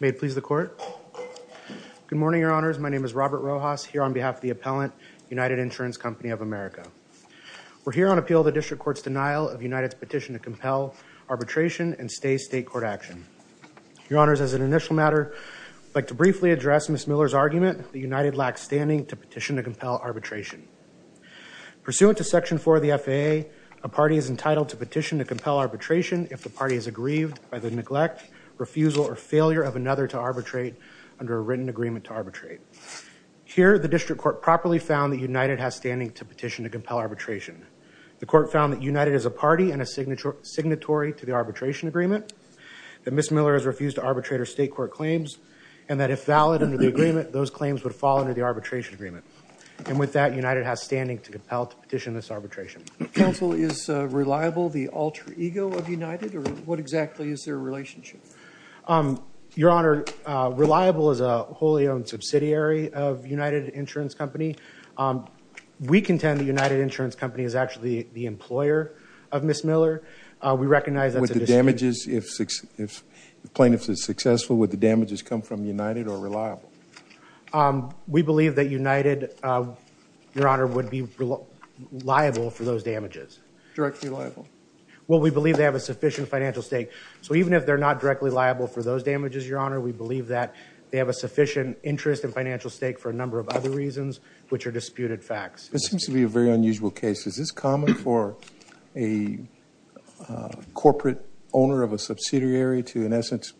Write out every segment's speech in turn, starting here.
May it please the court. Good morning, your honors. My name is Robert Rojas, here on behalf of the appellant, United Insurance Company of America. We're here on appeal of the district court's denial of United's petition to compel arbitration and stay state court action. Your honors, as an initial matter, I'd like to briefly address Ms. Miller's argument that United lacks standing to petition to compel arbitration. Pursuant to section 4 of the statute, the party is aggrieved by the neglect, refusal, or failure of another to arbitrate under a written agreement to arbitrate. Here, the district court properly found that United has standing to petition to compel arbitration. The court found that United is a party and a signatory to the arbitration agreement, that Ms. Miller has refused to arbitrate her state court claims, and that if valid under the agreement, those claims would fall under the arbitration agreement. And with that, United has standing to compel to petition this arbitration. Counsel, is reliable the alter ego of United, or what exactly is their relationship? Your honor, reliable is a wholly owned subsidiary of United Insurance Company. We contend that United Insurance Company is actually the employer of Ms. Miller. We recognize that's a dispute. With the damages, if plaintiff is successful, would the damages come from liable for those damages? Directly liable. Well, we believe they have a sufficient financial stake. So even if they're not directly liable for those damages, your honor, we believe that they have a sufficient interest and financial stake for a number of other reasons, which are disputed facts. This seems to be a very unusual case. Is this common for a corporate owner of a subsidiary to, in essence,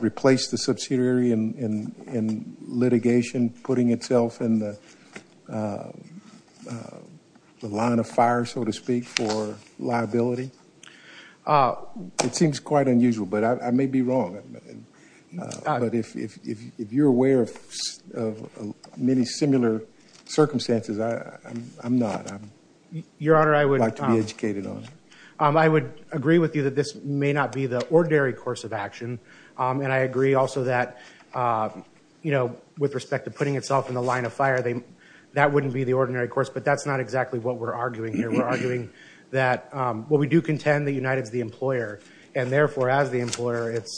replace the subsidiary in litigation, putting itself in the line of fire, so to speak, for liability? It seems quite unusual, but I may be wrong. But if you're aware of many similar circumstances, I'm not. I'd like to be educated on it. Your honor, I would agree with you that this may not be the ordinary course of action. And I agree also that with respect to putting itself in the line of fire, that wouldn't be the ordinary course. But that's not exactly what we're arguing here. We're arguing that we do contend that United's the employer. And therefore, as the employer, it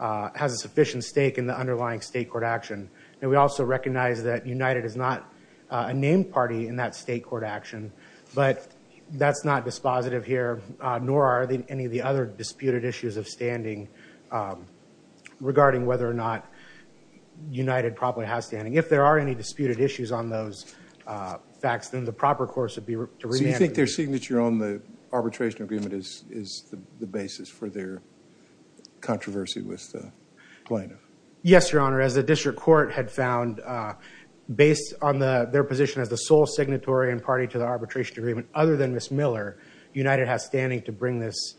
has a sufficient stake in the underlying state court action. And we also recognize that United is not a named party in that state court action. But that's not dispositive here, nor are any of the other disputed issues of standing regarding whether or not United probably has standing. If there are any disputed issues on those facts, then the proper course would be to remand. So you think their signature on the arbitration agreement is the basis for their controversy with the plaintiff? Yes, your honor. As the district court had found, based on their position as the sole signatory and party to the arbitration agreement, other than Ms. Miller, United has standing to bring this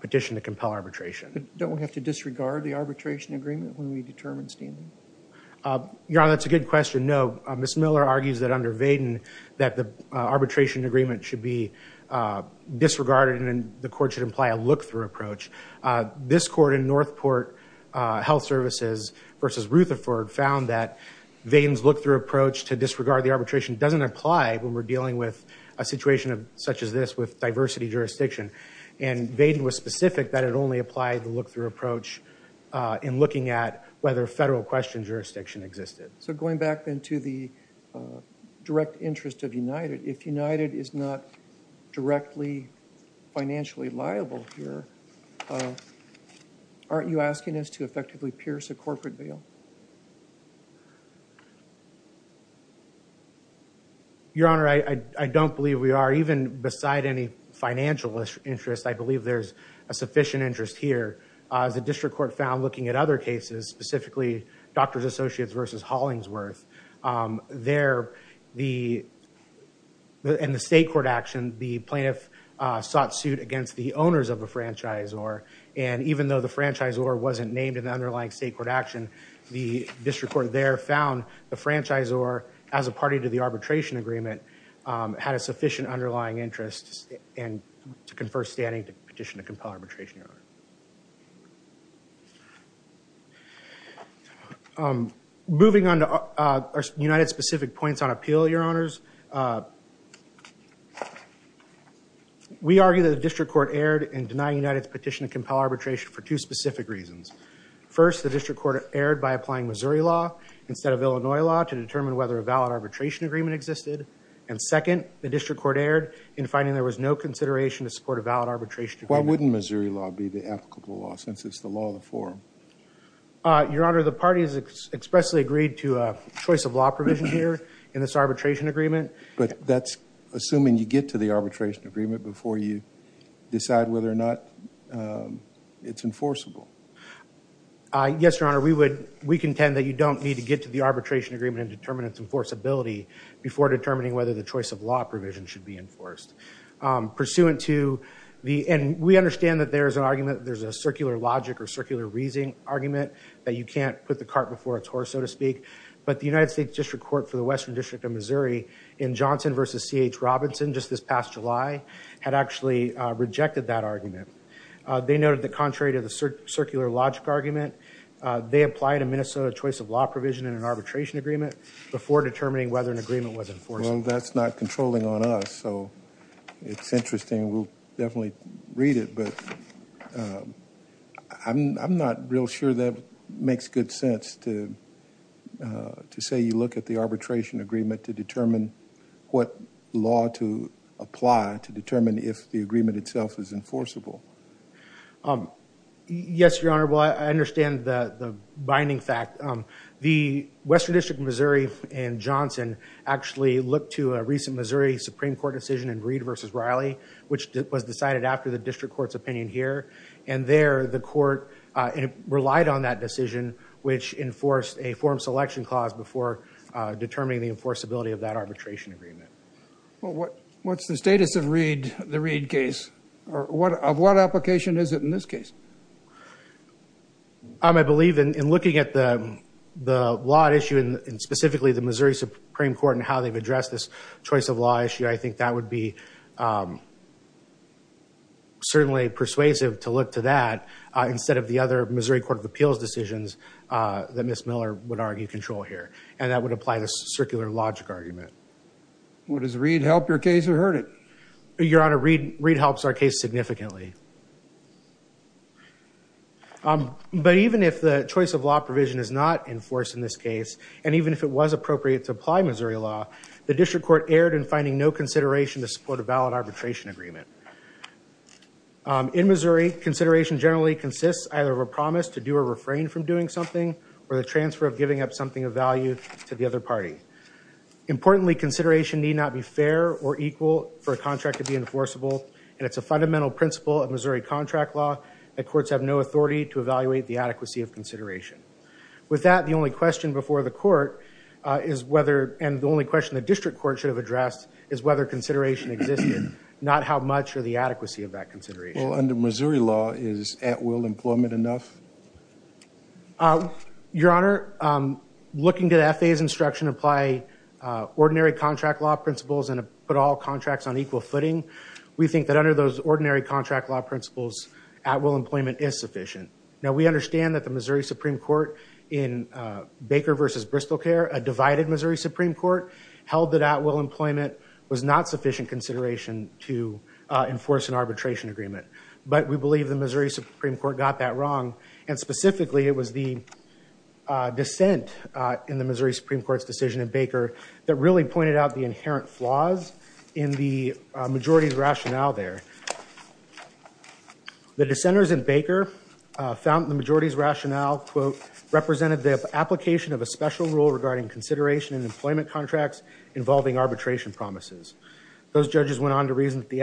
petition to compel arbitration. Don't we have to disregard the arbitration agreement when we determine standing? Your honor, that's a good question. No. Ms. Miller argues that under Vaden, that the arbitration agreement should be disregarded and the court should imply a look-through approach. This court in Northport Health Services versus Rutherford found that Vaden's look-through approach to disregard the arbitration doesn't apply when we're dealing with a situation such as this with diversity jurisdiction. And Vaden was specific that it only applied the look-through approach in looking at whether federal question jurisdiction existed. So going back then to the direct interest of United, if United is not directly financially liable here, aren't you asking us to effectively Your honor, I don't believe we are. Even beside any financial interest, I believe there's a sufficient interest here. As the district court found looking at other cases, specifically Doctors Associates versus Hollingsworth, there, in the state court action, the plaintiff sought suit against the owners of a franchisor. And even though the franchisor wasn't named in the underlying state court action, the district court there found the franchisor as a party to the arbitration agreement had a sufficient underlying interest to confer standing to petition to compel arbitration. Moving on to United's specific points on appeal, your honors, we argue that the district court erred in denying United's petition to compel arbitration for two specific reasons. First, the district court erred by applying Missouri law instead of Illinois law to determine whether a valid arbitration agreement existed. And second, the district court erred in finding there was no consideration to support a valid arbitration agreement. Why wouldn't Missouri law be the applicable law since it's the law of the forum? Your honor, the party has expressly agreed to a choice of law provision here in this arbitration agreement. But that's assuming you get to the arbitration agreement before you decide whether or not it's enforceable. Yes, your honor, we contend that you don't need to get to the arbitration agreement and determine its enforceability before determining whether the choice of law provision should be enforced. Pursuant to the, and we understand that there's an argument, there's a circular logic or circular reasoning argument that you can't put the cart before its horse, so to speak. But the United States District Court for the Western District of Missouri in Johnson versus C.H. Robinson just this past July had actually rejected that argument. They noted that contrary to the circular logic argument, they applied a Minnesota choice of law provision in an arbitration agreement before determining whether an agreement was enforceable. Well, that's not controlling on us, so it's interesting. We'll definitely read it, but I'm not real sure that makes good sense to say you look at the arbitration agreement to determine what law to apply to determine if the agreement itself is enforceable. Yes, your honor. Well, I understand the binding fact. The Western District of Missouri in Johnson actually looked to a recent Missouri Supreme Court decision in Reed versus Riley, which was decided after the district court's opinion here. And there the court relied on that decision, which enforced a form selection clause before determining the enforceability of that arbitration agreement. Well, what's the status of the Reed case? Of what application is it in this case? I believe in looking at the law issue and specifically the Missouri Supreme Court and how they've addressed this choice of law issue, I think that would be certainly persuasive to look to that instead of the other Missouri Court of Appeals decisions that Ms. Miller would argue control here, and that would apply this circular logic argument. Well, does Reed help your case or hurt it? Your honor, Reed helps our case significantly. But even if the choice of law provision is not enforced in this case, and even if it was appropriate to apply Missouri law, the district court erred in finding no consideration to support a valid arbitration agreement. In Missouri, consideration generally consists either of a promise to do or refrain from doing something, or the transfer of giving up something of value to the other party. Importantly, consideration need not be fair or equal for a contract to be enforceable, and it's a fundamental principle of Missouri contract law that courts have no authority to evaluate the adequacy of consideration. With that, the only question before the court is whether, and the only question the district court should have addressed, is whether consideration existed, not how much or the adequacy of that consideration. Well, under Missouri law, is at-will employment enough? Your honor, looking to the FAA's instruction to apply ordinary contract law principles and put all contracts on equal footing, we think that under those ordinary contract law principles, at-will employment is sufficient. Now, we understand that the Missouri Supreme Court in Baker v. Bristol Care, a divided Missouri Supreme Court, held that at-will employment was not sufficient consideration to enforce an arbitration agreement. But we believe the Missouri Supreme Court got that wrong, and specifically, it was the dissent in the Missouri Supreme Court's decision in Baker that really pointed out the inherent flaws in the majority's rationale there. The dissenters in Baker found the majority's rationale, quote, represented the application of a special rule regarding consideration in employment contracts involving arbitration promises. Those judges went on to reason that the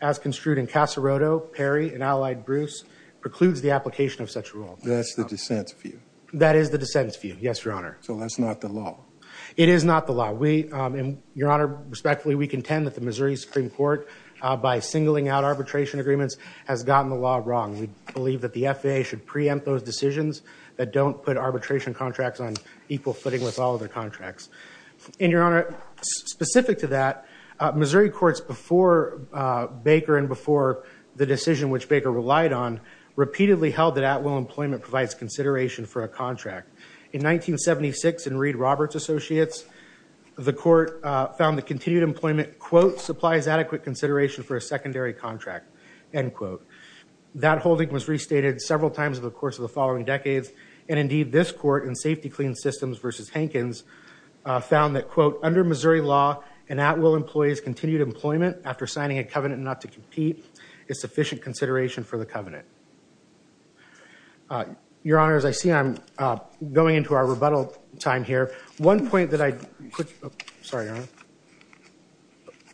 FAA, as construed in Casaroto, Perry, and Allied-Bruce, precludes the application of such rule. That's the dissent's view? That is the dissent's view, yes, your honor. So that's not the law? It is not the law. We, and your honor, respectfully, we contend that the Missouri Supreme Court, by singling out arbitration agreements, has gotten the law wrong. We believe that the FAA should preempt those decisions that don't put arbitration contracts on equal footing with all other contracts. And your honor, specific to that, Missouri courts before Baker and before the decision which Baker relied on, repeatedly held that at-will employment provides consideration for a contract. In 1976, in Reed-Roberts Associates, the court found that continued employment, quote, supplies adequate consideration for a secondary contract, end quote. That holding was restated several times over the course of the following decades. And indeed, this court, in Safety Clean Systems versus Hankins, found that, quote, under Missouri law, an at-will employee's continued employment, after signing a covenant not to compete, is sufficient consideration for the covenant. Your honor, as I see I'm going into our rebuttal time here, one point that I, sorry, your honor.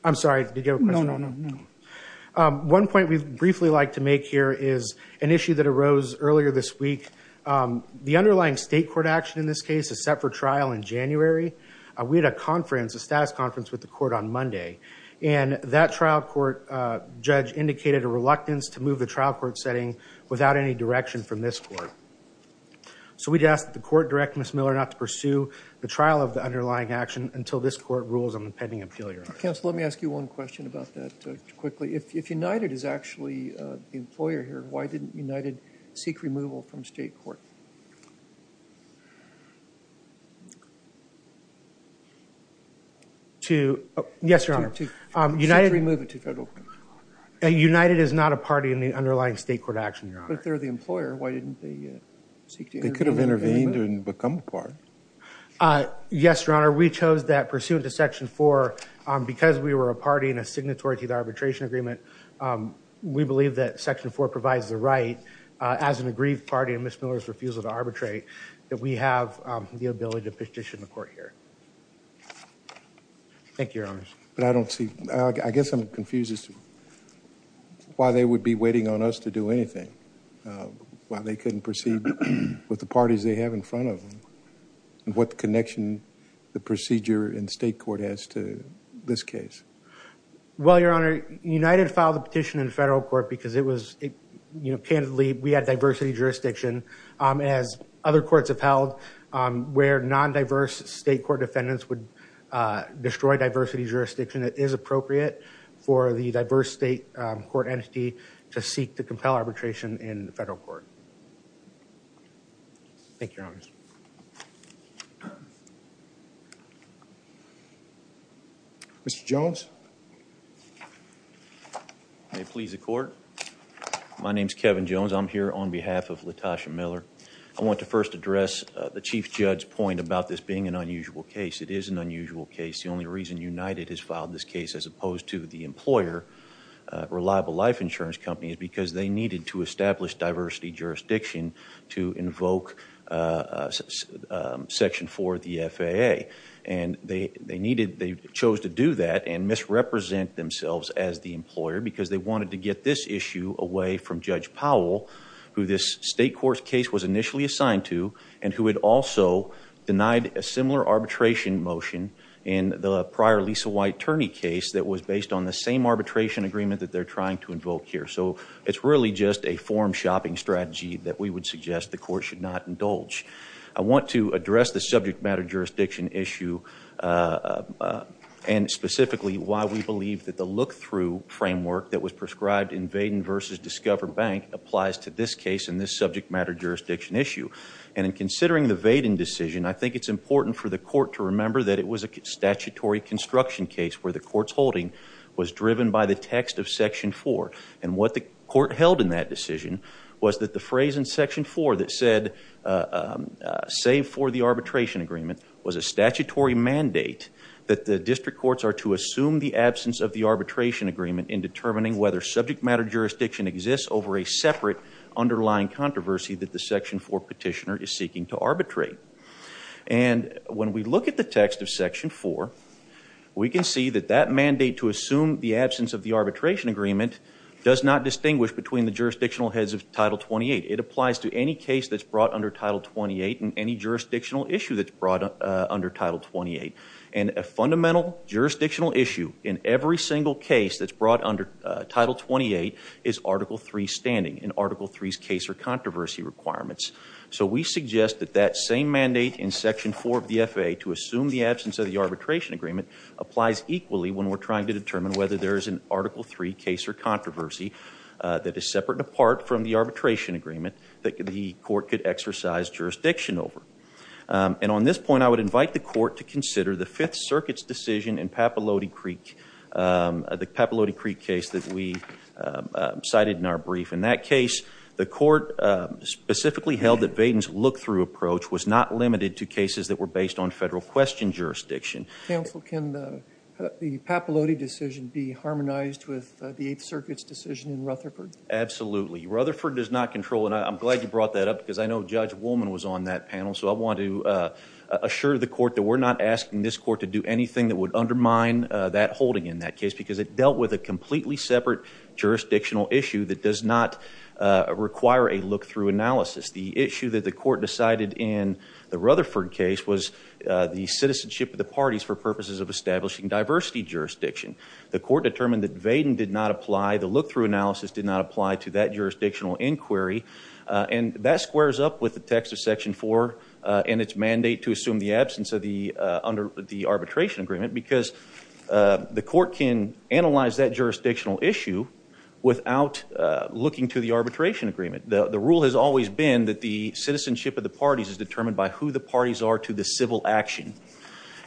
I'm sorry, did you have a question? No, no, no. One point we'd briefly like to make here is an issue that arose earlier this week. The underlying state court action in this case is set for trial in January. We had a conference, a status conference, with the court on Monday. And that trial court judge indicated a reluctance to move the trial court setting without any direction from this court. So we'd ask that the court direct Ms. Miller not to pursue the trial of the underlying action until this court rules on the pending appeal, your honor. Counsel, let me ask you one question about that quickly. If United is actually the employer here, why didn't United seek removal from state court? To, yes, your honor. To remove it to federal court, your honor. United is not a party in the underlying state court action, your honor. But they're the employer. Why didn't they seek to intervene? They could have intervened and become a part. Uh, yes, your honor. We chose that pursuant to section four. Because we were a party and a signatory to the arbitration agreement, we believe that section four provides the right as an aggrieved party and Ms. Miller's refusal to arbitrate that we have the ability to petition the court here. Thank you, your honors. But I don't see, I guess I'm confused as to why they would be waiting on us to do anything. Why they couldn't proceed with the parties they have in front of them. And what connection the procedure in state court has to this case? Well, your honor, United filed the petition in federal court because it was, you know, candidly, we had diversity jurisdiction, um, as other courts have held, um, where non-diverse state court defendants would, uh, destroy diversity jurisdiction. It is appropriate for the diverse state court entity to seek to compel arbitration in federal court. Thank you, your honors. Mr. Jones. May it please the court. My name is Kevin Jones. I'm here on behalf of LaTosha Miller. I want to first address the Chief Judge's point about this being an unusual case. It is an unusual case. The only reason United has filed this case as opposed to the employer, Reliable Life Insurance Company, is because they needed to establish diversity jurisdiction to invoke, uh, um, section four of the FAA. And they, they needed, they chose to do that and misrepresent themselves as the employer because they wanted to get this issue away from Judge Powell, who this state court's case was initially assigned to, and who had also denied a similar arbitration motion in the prior Lisa White Turney case that was based on the same arbitration agreement that they're trying to invoke here. So it's really just a form-shopping strategy that we would suggest the court should not indulge. I want to address the subject matter jurisdiction issue, uh, uh, and specifically why we believe that the look-through framework that was prescribed in Vaden versus Discover Bank applies to this case in this subject matter jurisdiction issue. And in considering the Vaden decision, I think it's important for the court to remember that it was a statutory construction case where the court's holding was driven by the text of section four. And what the court held in that decision was that the phrase in section four that said, uh, um, uh, save for the arbitration agreement was a statutory mandate that the district courts are to assume the absence of the arbitration agreement in determining whether subject matter jurisdiction exists over a separate underlying controversy that the section four petitioner is seeking to arbitrate. And when we look at the text of section four, we can see that that mandate to assume the absence of the arbitration agreement does not distinguish between the jurisdictional heads of title 28. It applies to any case that's brought under title 28 and any jurisdictional issue that's brought under title 28. And a fundamental jurisdictional issue in every single case that's brought under title 28 is article three standing in article three's case or controversy requirements. So we suggest that that same mandate in section four of the FAA to assume the absence of the arbitration agreement applies equally when we're trying to determine whether there is an article three case or controversy that is separate and apart from the arbitration agreement that the court could exercise jurisdiction over. And on this point, I would invite the court to consider the Fifth Circuit's decision in Papaloti Creek, the Papaloti Creek case that we cited in our brief. In that case, the court specifically held that Vaden's look-through approach was not limited to cases that were based on federal question jurisdiction. Counsel, can the Papaloti decision be harmonized with the Eighth Circuit's decision in Rutherford? Absolutely. Rutherford does not control, and I'm glad you brought that up because I know Judge Woolman was on that panel. So I want to assure the court that we're not asking this court to do anything that would undermine that holding in that case because it dealt with a completely separate jurisdictional issue that does not require a look-through analysis. The issue that the court decided in the Rutherford case was the citizenship of the parties for purposes of establishing diversity jurisdiction. The court determined that Vaden did not apply, the look-through analysis did not apply to that jurisdictional inquiry. And that squares up with the text of Section 4 and its mandate to assume the absence of the arbitration agreement because the court can analyze that jurisdictional issue without looking to the arbitration agreement. The rule has always been that the citizenship of the parties is determined by who the parties are to the civil action,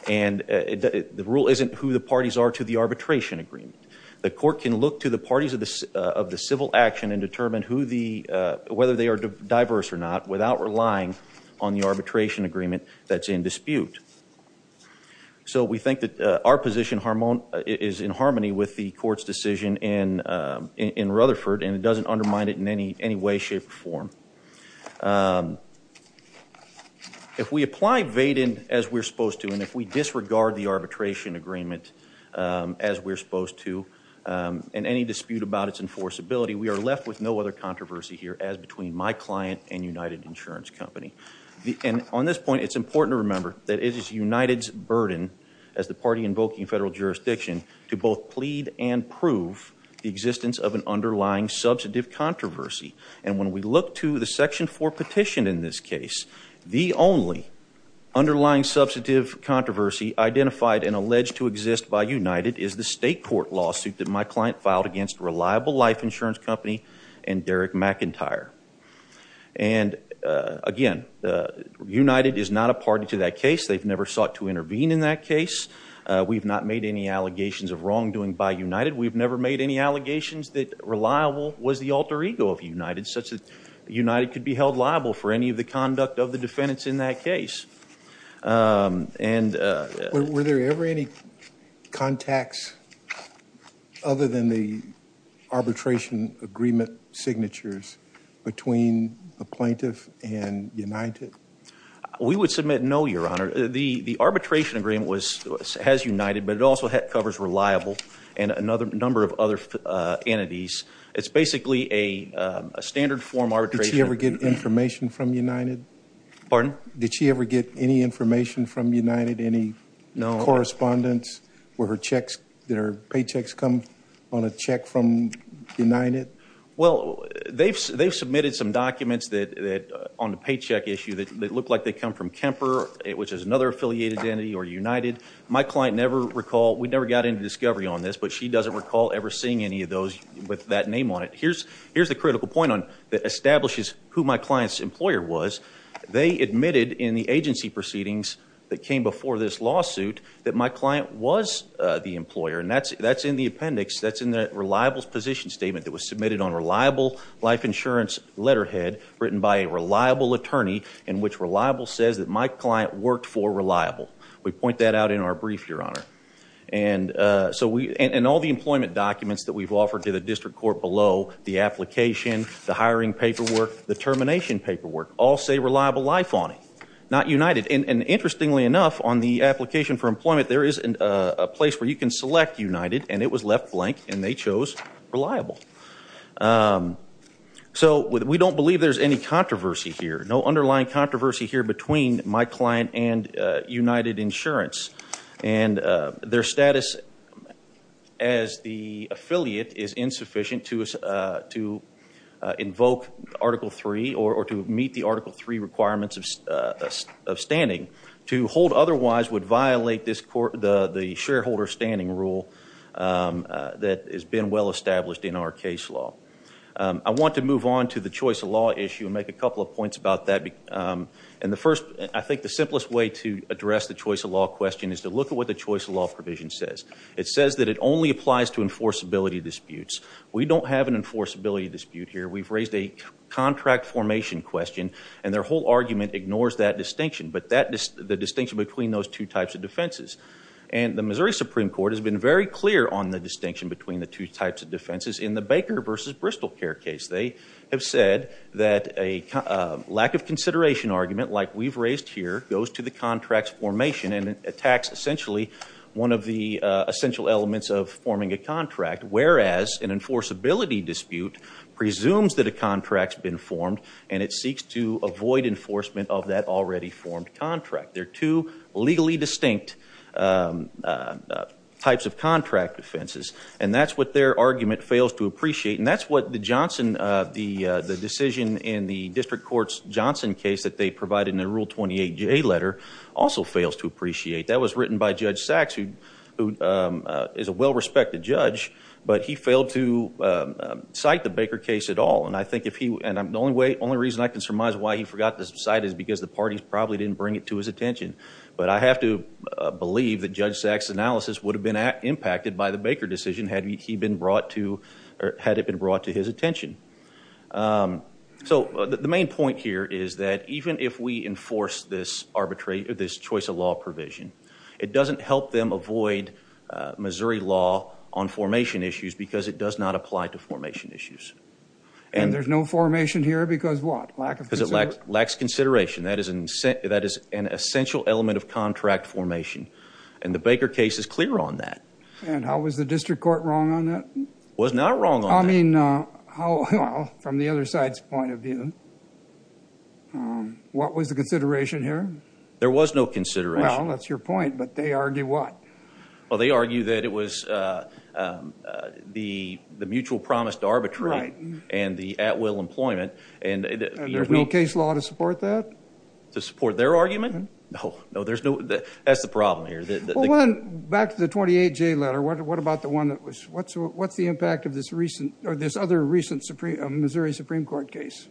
and the rule isn't who the parties are to the arbitration agreement. The court can look to the parties of the civil action and determine whether they are diverse or not without relying on the arbitration agreement that's in dispute. So we think that our position is in harmony with the court's decision in Rutherford, and it doesn't undermine it in any way, shape, or form. If we apply Vaden as we're supposed to, and if we disregard the arbitration agreement as we're supposed to in any dispute about its enforceability, we are left with no other controversy here as between my client and United Insurance Company. And on this point, it's important to remember that it is United's burden as the party invoking federal jurisdiction to both plead and prove the existence of an Section 4 petition in this case. The only underlying substantive controversy identified and alleged to exist by United is the state court lawsuit that my client filed against Reliable Life Insurance Company and Derek McIntyre. And again, United is not a party to that case. They've never sought to intervene in that case. We've not made any allegations of wrongdoing by United. We've never made any allegations that Reliable was the alter ego of United, such that United could be held liable for any of the conduct of the defendants in that case. Were there ever any contacts other than the arbitration agreement signatures between a plaintiff and United? We would submit no, Your Honor. The arbitration agreement has United, but it also covers Reliable and a number of other entities. It's basically a standard form arbitration. Did she ever get information from United? Pardon? Did she ever get any information from United? Any correspondence? Were her checks, did her paychecks come on a check from United? Well, they've submitted some documents that, on the paycheck issue, that look like they come from Kemper, which is another affiliated entity, or United. My client never recalled, we never got into discovery on this, but she doesn't recall ever seeing any of those. With that name on it, here's the critical point that establishes who my client's employer was. They admitted in the agency proceedings that came before this lawsuit that my client was the employer. And that's in the appendix, that's in the Reliable's position statement that was submitted on Reliable Life Insurance letterhead, written by a Reliable attorney, in which Reliable says that my client worked for Reliable. We point that out in our brief, Your Honor. And all the employment documents that we've offered to the district court below, the application, the hiring paperwork, the termination paperwork, all say Reliable Life on it, not United. And interestingly enough, on the application for employment, there is a place where you can select United, and it was left blank, and they chose Reliable. So we don't believe there's any controversy here, no underlying controversy here between my client and United Insurance. And their status as the affiliate is insufficient to invoke Article 3, or to meet the Article 3 requirements of standing. To hold otherwise would violate the shareholder standing rule that has been well established in our case law. I want to move on to the choice of law issue and make a couple of points about that. And the first, I think the simplest way to address the choice of law question is to look at what the choice of law provision says. It says that it only applies to enforceability disputes. We don't have an enforceability dispute here. We've raised a contract formation question, and their whole argument ignores that distinction, but the distinction between those two types of defenses. And the Missouri Supreme Court has been very clear on the distinction between the two types of defenses in the Baker versus BristolCare case. They have said that a lack of consideration argument, like we've raised here, goes to the contract's formation and attacks essentially one of the essential elements of forming a contract. Whereas an enforceability dispute presumes that a contract's been formed and it seeks to avoid enforcement of that already formed contract. They're two legally distinct types of contract defenses. And that's what their argument fails to appreciate. And that's what the decision in the District Court's Johnson case that they provided in the Rule 28J letter also fails to appreciate. That was written by Judge Sachs, who is a well-respected judge, but he failed to cite the Baker case at all. And I think the only reason I can surmise why he forgot to cite is because the parties probably didn't bring it to his attention. But I have to believe that Judge Sachs' analysis would have been impacted by the Baker decision had it been brought to his attention. So the main point here is that even if we enforce this arbitration, this choice of law provision, it doesn't help them avoid Missouri law on formation issues because it does not apply to formation issues. And there's no formation here because what? Because it lacks consideration. That is an essential element of contract formation. And the Baker case is clear on that. And how was the District Court wrong on that? Was not wrong on that. I mean, from the other side's point of view, what was the consideration here? There was no consideration. Well, that's your point, but they argue what? Well, they argue that it was the mutual promise to arbitrate and the at-will employment. And there's no case law to support that? To support their argument? No, no, there's no. That's the problem here. Back to the 28J letter, what about the one that was, what's the impact of this recent, or this other recent Missouri Supreme Court case?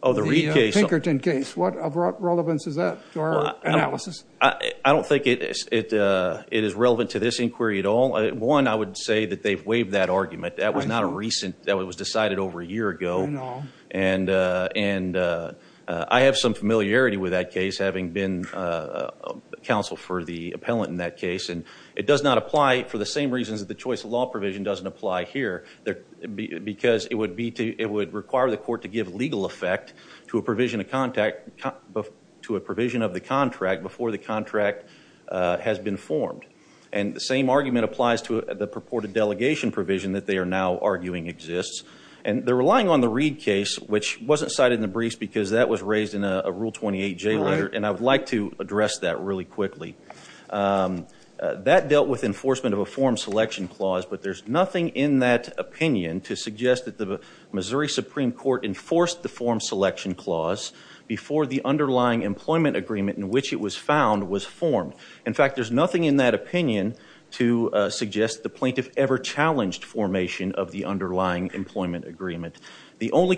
Oh, the Reed case. Pinkerton case. What of relevance is that to our analysis? I don't think it is relevant to this inquiry at all. One, I would say that they've waived that argument. That was not a recent, that was decided over a year ago. And I have some familiarity with that case, having been counsel for the appellant in that case. And it does not apply for the same reasons that the choice of law provision doesn't apply here. Because it would require the court to give legal effect to a provision of contact, to a provision of the contract before the contract has been formed. And the same argument applies to the purported delegation provision that they are now arguing exists. And they're relying on the Reed case, which wasn't cited in the briefs because that was raised in a Rule 28 J letter. And I would like to address that really quickly. That dealt with enforcement of a form selection clause, but there's nothing in that opinion to suggest that the Missouri Supreme Court enforced the form selection clause before the underlying employment agreement in which it was found was formed. In fact, there's nothing in that opinion to suggest the plaintiff ever challenged formation of the underlying employment agreement. The only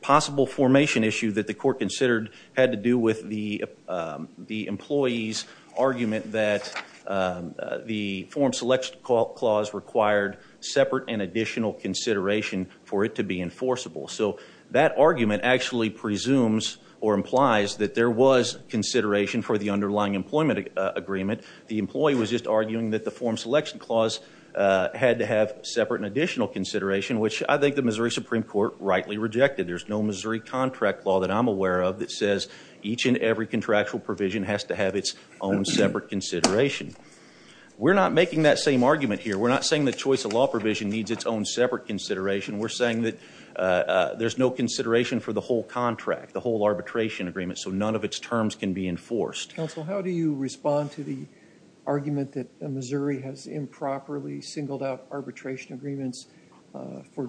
possible formation issue that the court considered had to do with the employee's argument that the form selection clause required separate and additional consideration for it to be enforceable. So that argument actually presumes or implies that there was consideration for the underlying employment agreement. The employee was just arguing that the form selection clause had to have separate and additional consideration, which I think the Missouri Supreme Court rightly rejected. There's no Missouri contract law that I'm aware of that says each and every contractual provision has to have its own separate consideration. We're not making that same argument here. We're not saying the choice of law provision needs its own separate consideration. We're saying that there's no consideration for the whole contract, the whole arbitration agreement. So none of its terms can be enforced. Counsel, how do you respond to the argument that Missouri has improperly singled out arbitration agreements for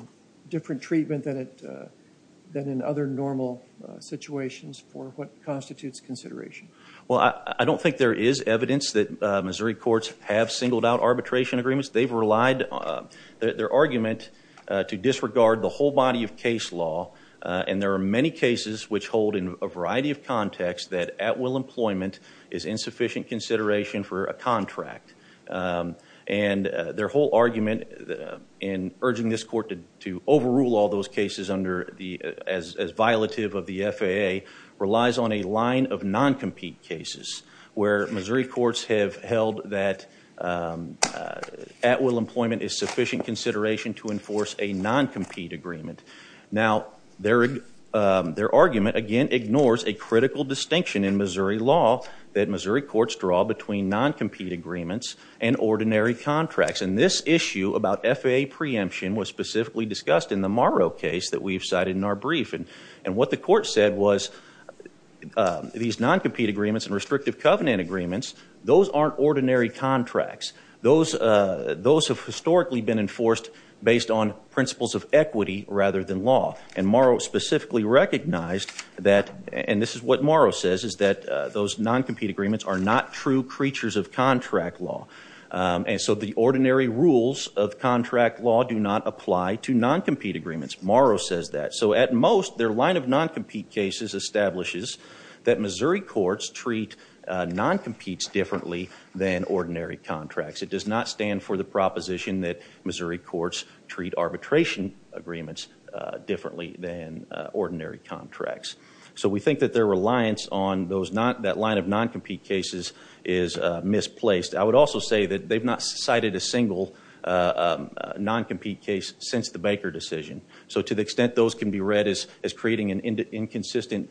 different treatment than in other normal situations for what constitutes consideration? Well, I don't think there is evidence that Missouri courts have singled out arbitration agreements. They've relied on their argument to disregard the whole body of case law. And there are many cases which hold in a variety of contexts that at-will employment is insufficient consideration for a contract. And their whole argument in urging this court to overrule all those cases as violative of the FAA relies on a line of non-compete cases where Missouri courts have held that at-will employment is sufficient consideration to enforce a non-compete agreement. Now, their argument, again, ignores a critical distinction in Missouri law that Missouri courts draw between non-compete agreements and ordinary contracts. And this issue about FAA preemption was specifically discussed in the Morrow case that we've cited in our brief. And what the court said was these non-compete agreements and restrictive covenant agreements, those aren't ordinary contracts. Those have historically been enforced based on principles of equity rather than law. And Morrow specifically recognized that, and this is what Morrow says, is that those non-compete agreements are not true creatures of contract law. And so the ordinary rules of contract law do not apply to non-compete agreements. Morrow says that. So at most, their line of non-compete cases establishes that Missouri courts treat non-competes differently than ordinary contracts. It does not stand for the proposition that Missouri courts treat arbitration agreements differently than ordinary contracts. So we think that their reliance on that line of non-compete cases is misplaced. I would also say that they've not cited a single non-compete case since the Baker decision. So to the extent those can be read as creating an inconsistent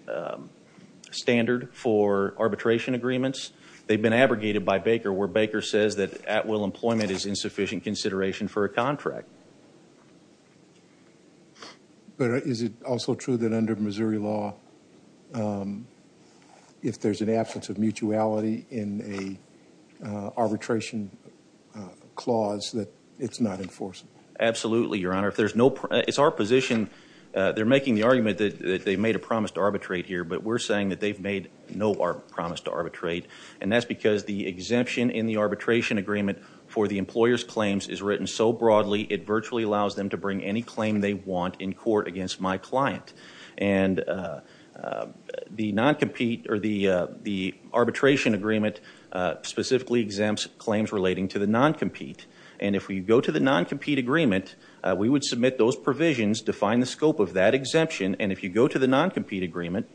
standard for arbitration agreements, they've been abrogated by Baker, where Baker says that at-will employment is insufficient consideration for a contract. But is it also true that under Missouri law, if there's an absence of mutuality in a arbitration clause, that it's not enforceable? Absolutely, Your Honor. If there's no... It's our position. They're making the argument that they made a promise to arbitrate here. But we're saying that they've made no promise to arbitrate. And that's because the exemption in the arbitration agreement for the employer's claims is written so broadly, it virtually allows them to bring any claim they want in court against my client. And the non-compete or the arbitration agreement specifically exempts claims relating to the non-compete. And if we go to the non-compete agreement, we would submit those provisions to find the scope of that exemption. And if you go to the non-compete agreement,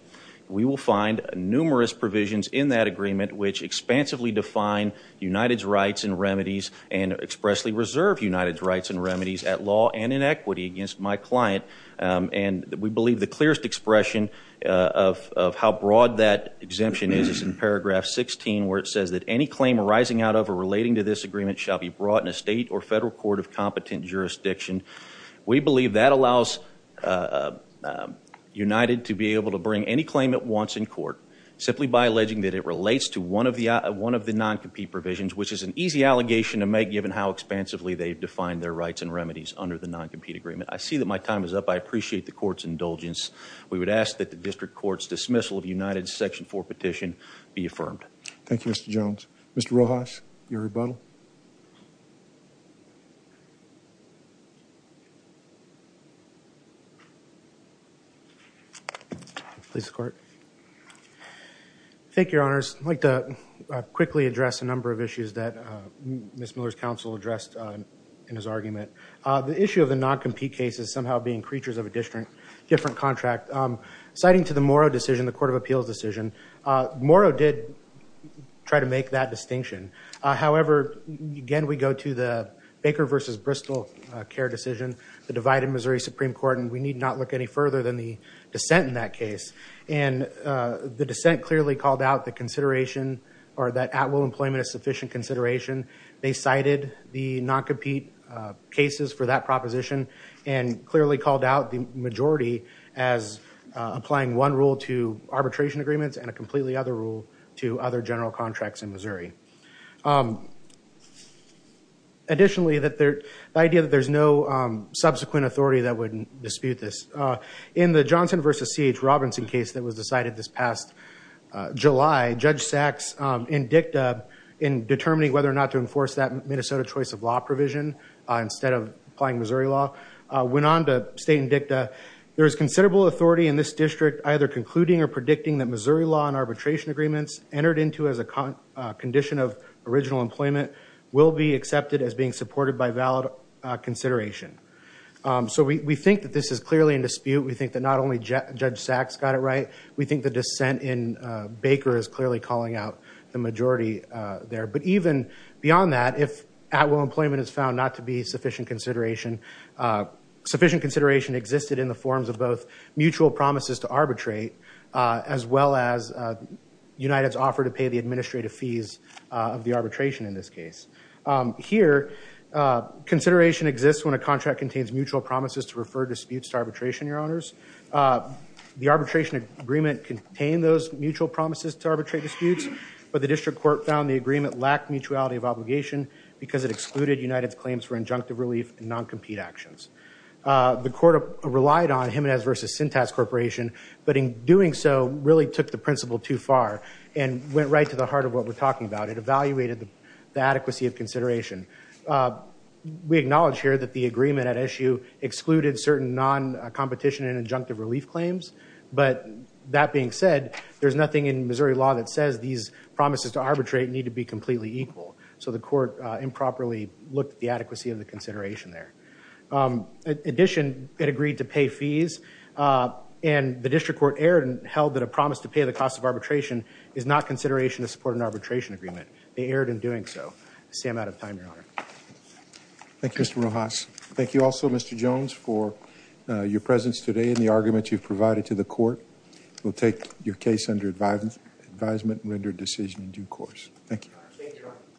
we will find numerous provisions in that agreement which expansively define United's rights and remedies and expressly reserve United's rights and remedies at law and in equity against my client. And we believe the clearest expression of how broad that exemption is is in paragraph 16, where it says that any claim arising out of or relating to this agreement shall be brought in a state or federal court of competent jurisdiction. We believe that allows United to be able to bring any claim it wants in court simply by alleging that it relates to one of the non-compete provisions, which is an easy allegation to make given how expansively they've defined their rights and remedies under the non-compete agreement. I see that my time is up. I appreciate the court's indulgence. We would ask that the district court's dismissal of United's section four petition be affirmed. Thank you, Mr. Jones. Mr. Rojas, your rebuttal. Please, court. Thank you, your honors. I'd like to quickly address a number of issues that Ms. Miller's counsel addressed in his argument. The issue of the non-compete case is somehow being creatures of a different contract. Citing to the Morrow decision, the Court of Appeals decision, Morrow did try to make that distinction. However, again, we go to the Baker versus Bristol care decision, the divided Missouri Supreme Court, and we need not look any further than the dissent in that case. And the dissent clearly called out the consideration or that at-will employment is sufficient consideration. They cited the non-compete cases for that proposition and clearly called out the majority as applying one rule to arbitration agreements and a completely other rule to other general contracts in Missouri. Additionally, the idea that there's no subsequent authority that would dispute this. In the Johnson versus C.H. Robinson case that was decided this past July, Judge Sachs in dicta in determining whether or not to enforce that Minnesota choice of law provision instead of applying Missouri law went on to state in dicta, there is considerable authority in this district either concluding or predicting that Missouri law and arbitration agreements entered into as a condition of original employment will be accepted as being supported by valid consideration. So we think that this is clearly in dispute. We think that not only Judge Sachs got it right. We think the dissent in Baker is clearly calling out the majority there. But even beyond that, if at will employment is found not to be sufficient consideration, sufficient consideration existed in the forms of both mutual promises to arbitrate as well as United's offer to pay the administrative fees of the arbitration in this case. Here, consideration exists when a contract contains mutual promises to refer disputes to arbitration, your honors. The arbitration agreement contained those mutual promises to arbitrate disputes, but the district court found the agreement lacked mutuality of obligation because it excluded United's claims for injunctive relief and non-compete actions. The court relied on Jimenez versus Syntax Corporation, but in doing so, really took the principle too far and went right to the heart of what we're talking about. It evaluated the adequacy of consideration. We acknowledge here that the agreement at issue excluded certain non-competition and injunctive relief claims. But that being said, there's nothing in Missouri law that says these promises to arbitrate need to be completely equal. So the court improperly looked at the adequacy of the consideration there. In addition, it agreed to pay fees and the district court erred and held that a promise to pay the cost of arbitration is not consideration to support an arbitration agreement. They erred in doing so. I'm out of time, your honor. Thank you, Mr. Rojas. Thank you also, Mr. Jones, for your presence today and the argument you've provided to the court. We'll take your case under advisement and rendered decision in due course. Thank you.